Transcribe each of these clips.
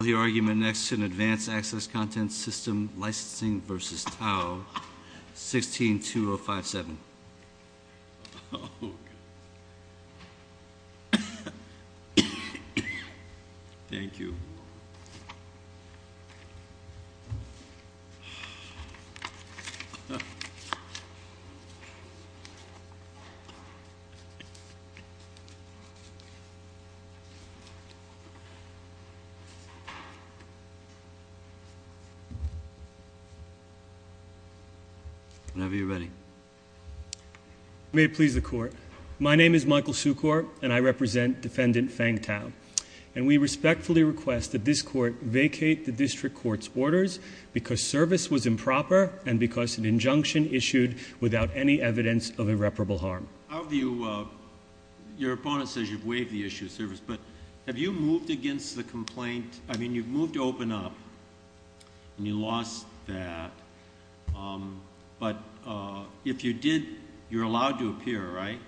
I call the argument next in Advanced Access Content System Licensing v. Tau, 16-2057. Thank you. Whenever you're ready. May it please the Court. My name is Michael Sukor, and I represent Defendant Fang Tau. And we respectfully request that this Court vacate the District Court's orders because service was improper and because an injunction issued without any evidence of irreparable harm. Your opponent says you've waived the issue of service, but have you moved against the complaint? I mean, you've moved to open up, and you lost that. But if you did, you're allowed to appear, right?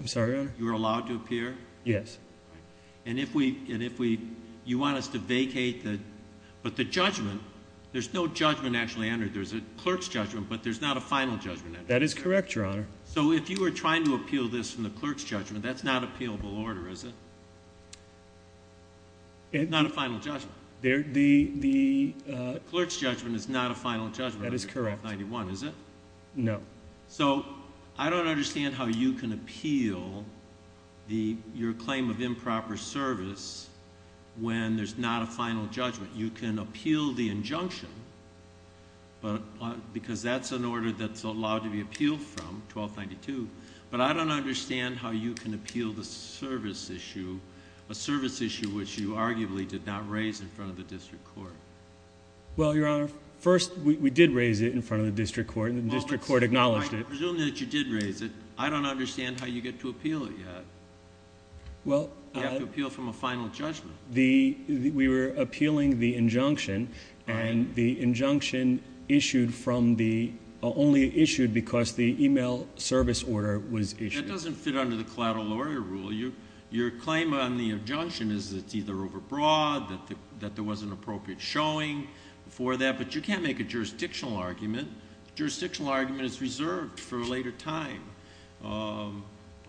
I'm sorry, Your Honor? You're allowed to appear? Yes. And if we – you want us to vacate the – but the judgment – there's no judgment actually entered. There's a clerk's judgment, but there's not a final judgment. That is correct, Your Honor. So if you were trying to appeal this from the clerk's judgment, that's not appealable order, is it? It's not a final judgment. The – the – The clerk's judgment is not a final judgment. That is correct. Is it? No. So I don't understand how you can appeal the – your claim of improper service when there's not a final judgment. You can appeal the injunction, but – because that's an order that's allowed to be appealed from, 1292. But I don't understand how you can appeal the service issue, a service issue which you arguably did not raise in front of the district court. Well, Your Honor, first, we did raise it in front of the district court, and the district court acknowledged it. I presume that you did raise it. I don't understand how you get to appeal it yet. Well – You have to appeal from a final judgment. Well, the – we were appealing the injunction, and the injunction issued from the – only issued because the email service order was issued. That doesn't fit under the collateral lawyer rule. Your claim on the injunction is that it's either overbroad, that there wasn't an appropriate showing for that. But you can't make a jurisdictional argument. A jurisdictional argument is reserved for a later time. Your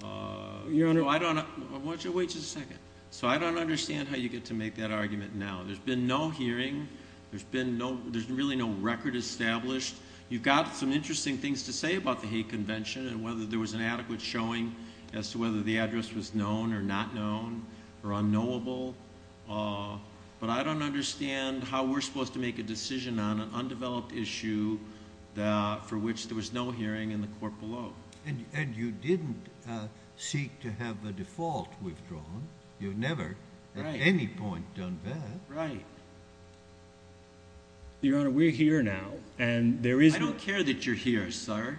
Honor – No, I don't – why don't you wait just a second. So I don't understand how you get to make that argument now. There's been no hearing. There's been no – there's really no record established. You've got some interesting things to say about the hate convention and whether there was an adequate showing as to whether the address was known or not known or unknowable. But I don't understand how we're supposed to make a decision on an undeveloped issue for which there was no hearing in the court below. And you didn't seek to have a default withdrawn. You've never at any point done that. Right. Your Honor, we're here now, and there is – I don't care that you're here, sir.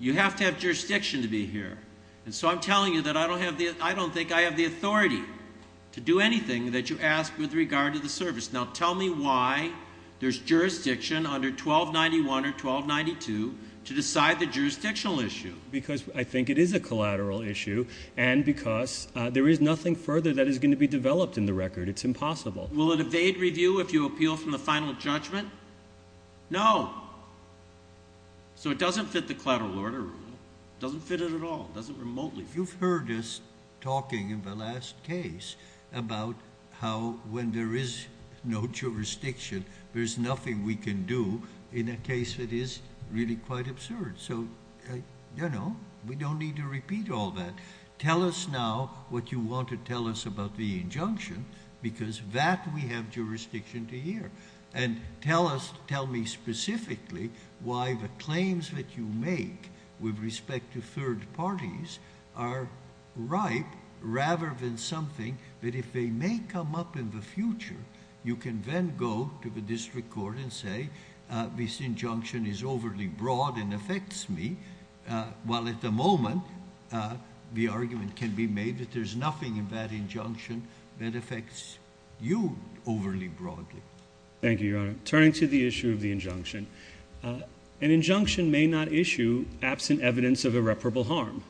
You have to have jurisdiction to be here. And so I'm telling you that I don't have the – I don't think I have the authority to do anything that you ask with regard to the service. Now, tell me why there's jurisdiction under 1291 or 1292 to decide the jurisdictional issue. Because I think it is a collateral issue and because there is nothing further that is going to be developed in the record. It's impossible. Will it evade review if you appeal from the final judgment? No. So it doesn't fit the collateral order rule. It doesn't fit it at all. It doesn't remotely fit it. But you've heard us talking in the last case about how when there is no jurisdiction, there's nothing we can do in a case that is really quite absurd. So, you know, we don't need to repeat all that. Tell us now what you want to tell us about the injunction because that we have jurisdiction to hear. And tell us – tell me specifically why the claims that you make with respect to third parties are right rather than something that if they may come up in the future, you can then go to the district court and say this injunction is overly broad and affects me. While at the moment, the argument can be made that there's nothing in that injunction that affects you overly broadly. Thank you, Your Honor. Turning to the issue of the injunction, an injunction may not issue absent evidence of irreparable harm.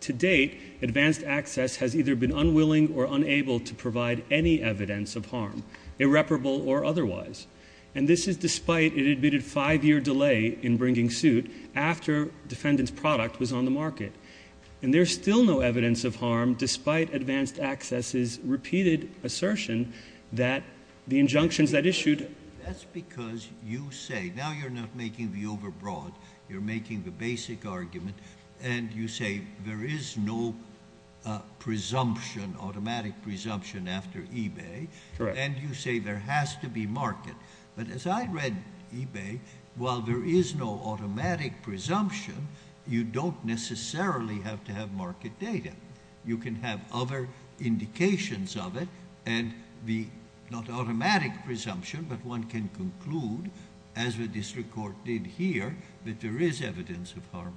To date, advanced access has either been unwilling or unable to provide any evidence of harm, irreparable or otherwise. And this is despite it admitted five-year delay in bringing suit after defendant's product was on the market. And there's still no evidence of harm despite advanced access's repeated assertion that the injunctions that issued – That's because you say – now you're not making the overbroad. You're making the basic argument. And you say there is no presumption, automatic presumption after eBay. Correct. And you say there has to be market. But as I read eBay, while there is no automatic presumption, you don't necessarily have to have market data. You can have other indications of it and the not automatic presumption, but one can conclude, as the district court did here, that there is evidence of harm.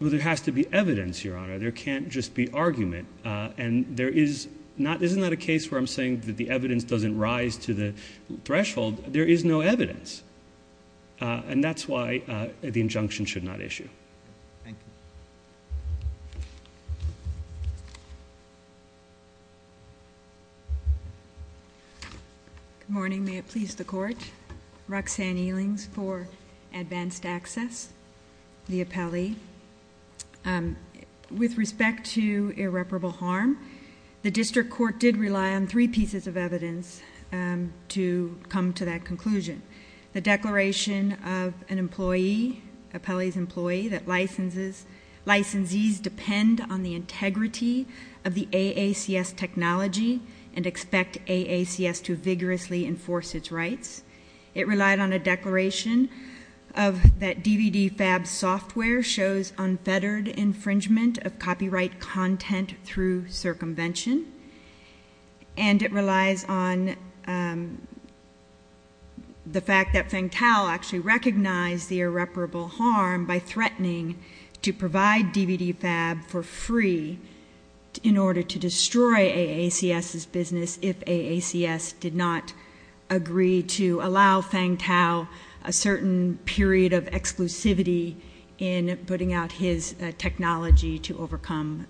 Well, there has to be evidence, Your Honor. There can't just be argument. And there is not – isn't that a case where I'm saying that the evidence doesn't rise to the threshold? There is no evidence. And that's why the injunction should not issue. Thank you. Good morning. May it please the Court. Roxanne Elings for advanced access, the appellee. With respect to irreparable harm, the district court did rely on three pieces of evidence to come to that conclusion. The declaration of an employee, appellee's employee, that licensees depend on the integrity of the AACS technology and expect AACS to vigorously enforce its rights. It relied on a declaration of that DVDFab software shows unfettered infringement of copyright content through circumvention. And it relies on the fact that Feng Tao actually recognized the irreparable harm by threatening to provide DVDFab for free in order to destroy AACS's business if AACS did not agree to allow Feng Tao a certain period of exclusivity in putting out his technology to overcome.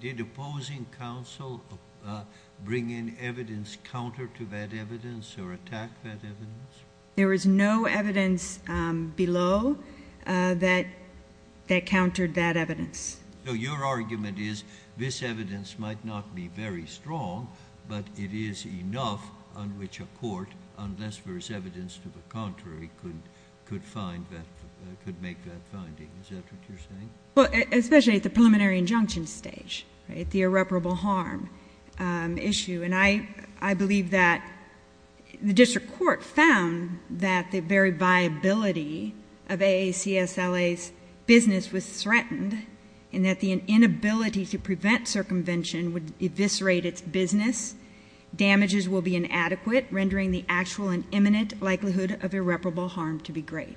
Did opposing counsel bring in evidence counter to that evidence or attack that evidence? There was no evidence below that countered that evidence. So your argument is this evidence might not be very strong, but it is enough on which a court, unless there is evidence to the contrary, could make that finding. Is that what you're saying? Well, especially at the preliminary injunction stage, right, the irreparable harm issue. And I believe that the district court found that the very viability of AACSLA's business was threatened and that the inability to prevent circumvention would eviscerate its business. Damages will be inadequate, rendering the actual and imminent likelihood of irreparable harm to be great.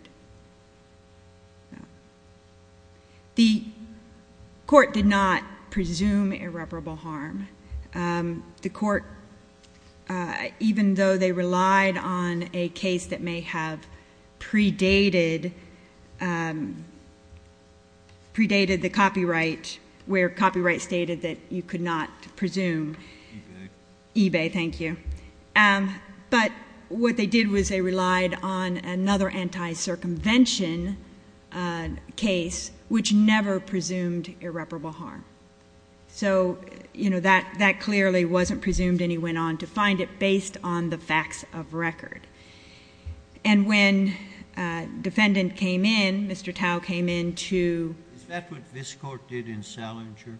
The court did not presume irreparable harm. The court, even though they relied on a case that may have predated the copyright, where copyright stated that you could not presume. eBay. eBay, thank you. But what they did was they relied on another anti-circumvention case which never presumed irreparable harm. So, you know, that clearly wasn't presumed and he went on to find it based on the facts of record. And when defendant came in, Mr. Tao came in to. Is that what this court did in Salinger?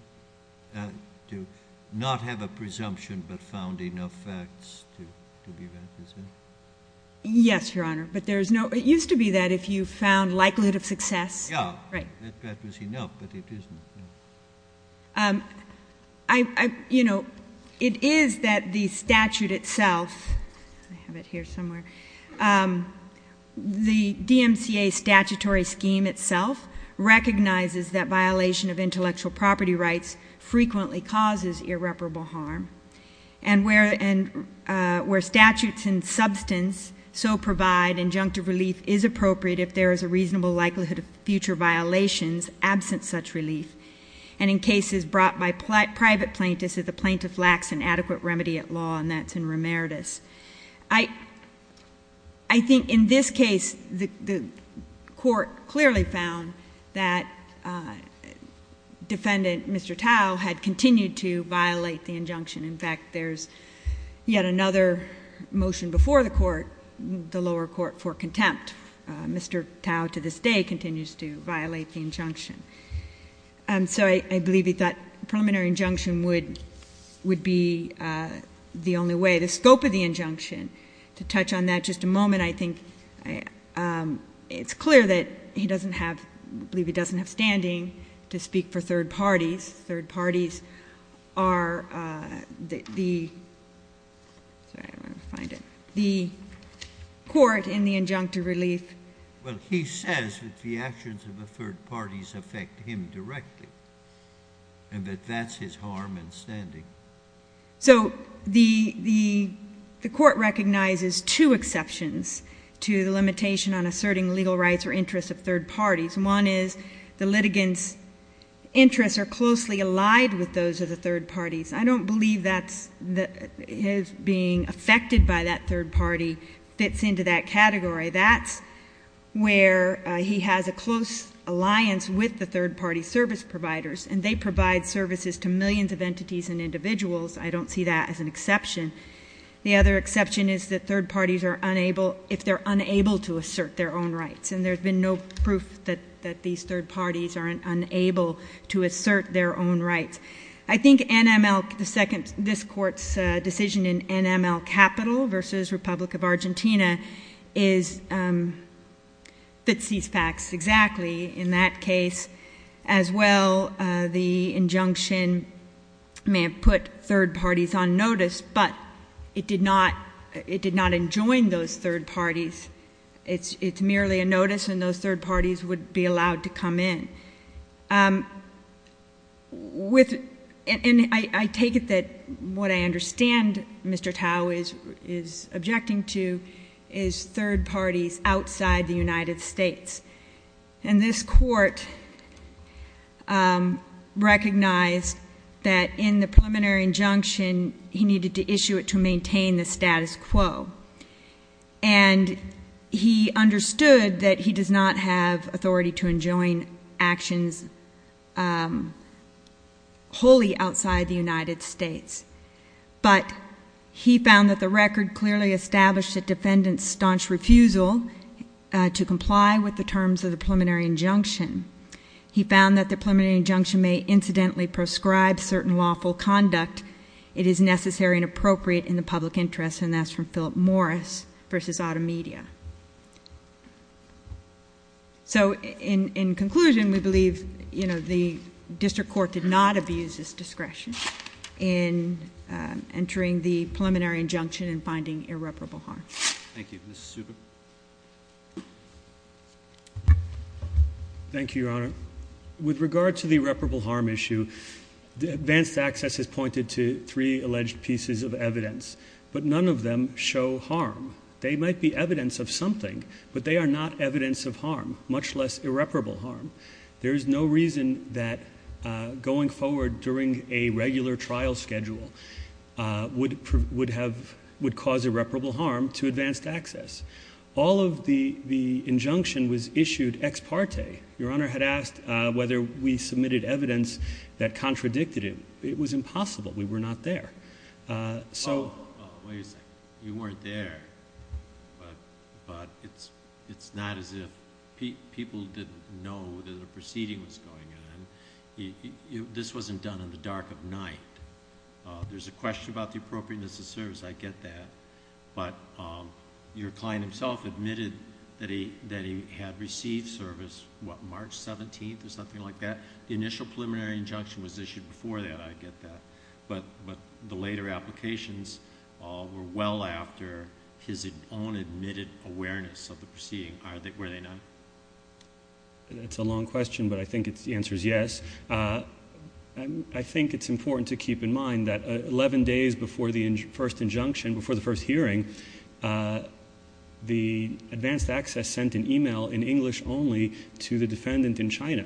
To not have a presumption but found enough facts to be that, is that? Yes, Your Honor. But there is no. It used to be that if you found likelihood of success. Yeah. Right. That was enough, but it isn't. You know, it is that the statute itself, I have it here somewhere. The DMCA statutory scheme itself recognizes that violation of intellectual property rights frequently causes irreparable harm. And where statutes in substance so provide injunctive relief is appropriate if there is a reasonable likelihood of future violations absent such relief. And in cases brought by private plaintiffs, if the plaintiff lacks an adequate remedy at law, and that's in Remeritus. I think in this case, the court clearly found that defendant, Mr. Tao, had continued to violate the injunction. In fact, there's yet another motion before the court, the lower court, for contempt. Mr. Tao, to this day, continues to violate the injunction. So I believe that preliminary injunction would be the only way. The scope of the injunction, to touch on that just a moment, I think it's clear that he doesn't have, I believe he doesn't have standing to speak for third parties. Third parties are the court in the injunctive relief. Well, he says that the actions of the third parties affect him directly, and that that's his harm in standing. So the court recognizes two exceptions to the limitation on asserting legal rights or interests of third parties. One is the litigant's interests are closely allied with those of the third parties. I don't believe that his being affected by that third party fits into that category. That's where he has a close alliance with the third party service providers, and they provide services to millions of entities and individuals. I don't see that as an exception. The other exception is that third parties are unable, if they're unable to assert their own rights, and there's been no proof that these third parties are unable to assert their own rights. I think NML, this court's decision in NML capital versus Republic of Argentina fits these facts exactly in that case. As well, the injunction may have put third parties on notice, but it did not enjoin those third parties. It's merely a notice, and those third parties would be allowed to come in. And I take it that what I understand Mr. Tao is objecting to is third parties outside the United States. And this court recognized that in the preliminary injunction, he needed to issue it to maintain the status quo. And he understood that he does not have authority to enjoin actions wholly outside the United States. But he found that the record clearly established that defendants staunch refusal to comply with the terms of the preliminary injunction. He found that the preliminary injunction may incidentally prescribe certain lawful conduct. It is necessary and appropriate in the public interest, and that's from Philip Morris versus Auto Media. So in conclusion, we believe the district court did not abuse its discretion in entering the preliminary injunction and finding irreparable harm. Thank you. Thank you, Your Honor. With regard to the irreparable harm issue, advanced access has pointed to three alleged pieces of evidence, but none of them show harm. They might be evidence of something, but they are not evidence of harm, much less irreparable harm. There is no reason that going forward during a regular trial schedule would cause irreparable harm to advanced access. All of the injunction was issued ex parte. Your Honor had asked whether we submitted evidence that contradicted it. It was impossible. We were not there. So— Wait a second. You weren't there, but it's not as if people didn't know that a proceeding was going on. This wasn't done in the dark of night. There's a question about the appropriateness of service. I get that. But your client himself admitted that he had received service, what, March 17th or something like that? The initial preliminary injunction was issued before that. I get that. But the later applications were well after his own admitted awareness of the proceeding, were they not? That's a long question, but I think the answer is yes. I think it's important to keep in mind that 11 days before the first injunction, before the first hearing, the advanced access sent an e-mail in English only to the defendant in China.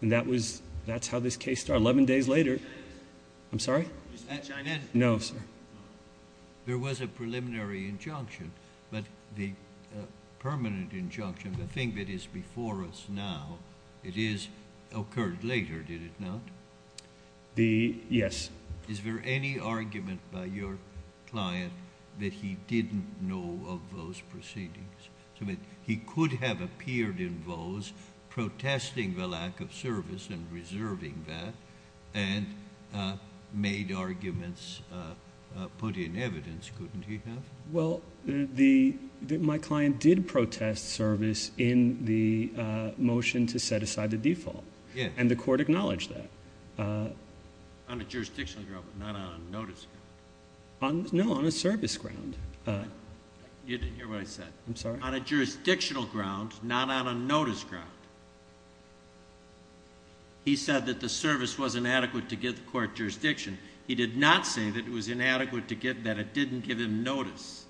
And that's how this case started. Eleven days later— Is that China? I'm sorry? Is that China? No, sir. There was a preliminary injunction. But the permanent injunction, the thing that is before us now, it occurred later, did it not? Yes. Is there any argument by your client that he didn't know of those proceedings? He could have appeared in those protesting the lack of service and reserving that and made arguments, put in evidence, couldn't he have? Well, my client did protest service in the motion to set aside the default, and the court acknowledged that. On a jurisdictional ground, not on a notice ground. No, on a service ground. You didn't hear what I said. I'm sorry? On a jurisdictional ground, not on a notice ground. He said that the service was inadequate to give the court jurisdiction. He did not say that it was inadequate to give, that it didn't give him notice.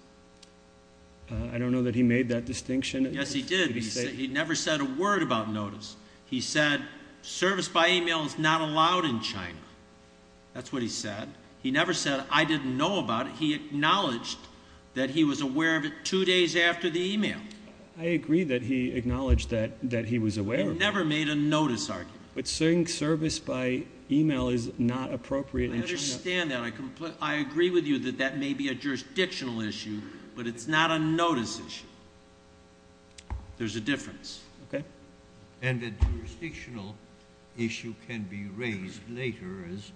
I don't know that he made that distinction. Yes, he did. He never said a word about notice. He said service by email is not allowed in China. That's what he said. He never said I didn't know about it. He acknowledged that he was aware of it two days after the email. I agree that he acknowledged that he was aware of it. He never made a notice argument. But saying service by email is not appropriate in China. I understand that. I agree with you that that may be a jurisdictional issue, but it's not a notice issue. There's a difference. Okay. And a jurisdictional issue can be raised later, as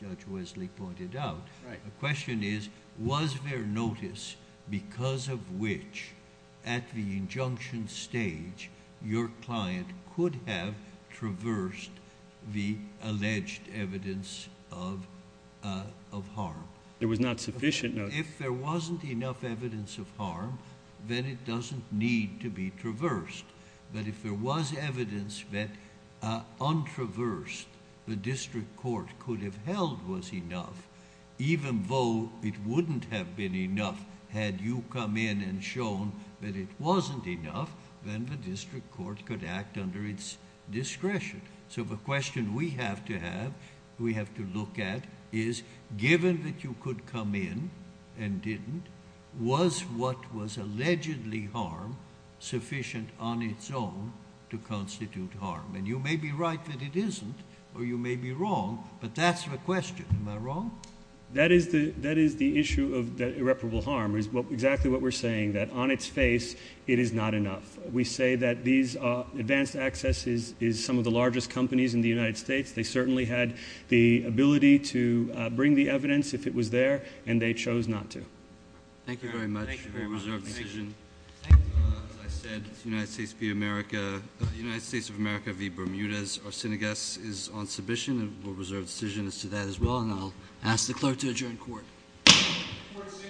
Judge Wesley pointed out. The question is, was there notice because of which, at the injunction stage, your client could have traversed the alleged evidence of harm? There was not sufficient notice. If there wasn't enough evidence of harm, then it doesn't need to be traversed. But if there was evidence that, untraversed, the district court could have held was enough, even though it wouldn't have been enough had you come in and shown that it wasn't enough, then the district court could act under its discretion. So the question we have to have, we have to look at, is given that you could come in and didn't, was what was allegedly harm sufficient on its own to constitute harm? And you may be right that it isn't, or you may be wrong, but that's the question. Am I wrong? That is the issue of irreparable harm is exactly what we're saying, that on its face, it is not enough. We say that these advanced accesses is some of the largest companies in the United States. They certainly had the ability to bring the evidence if it was there, and they chose not to. Thank you very much. Thank you very much. As I said, United States of America v. Bermudez-Arsenagas is on submission. And we'll reserve decision as to that as well, and I'll ask the clerk to adjourn court. Court is adjourned.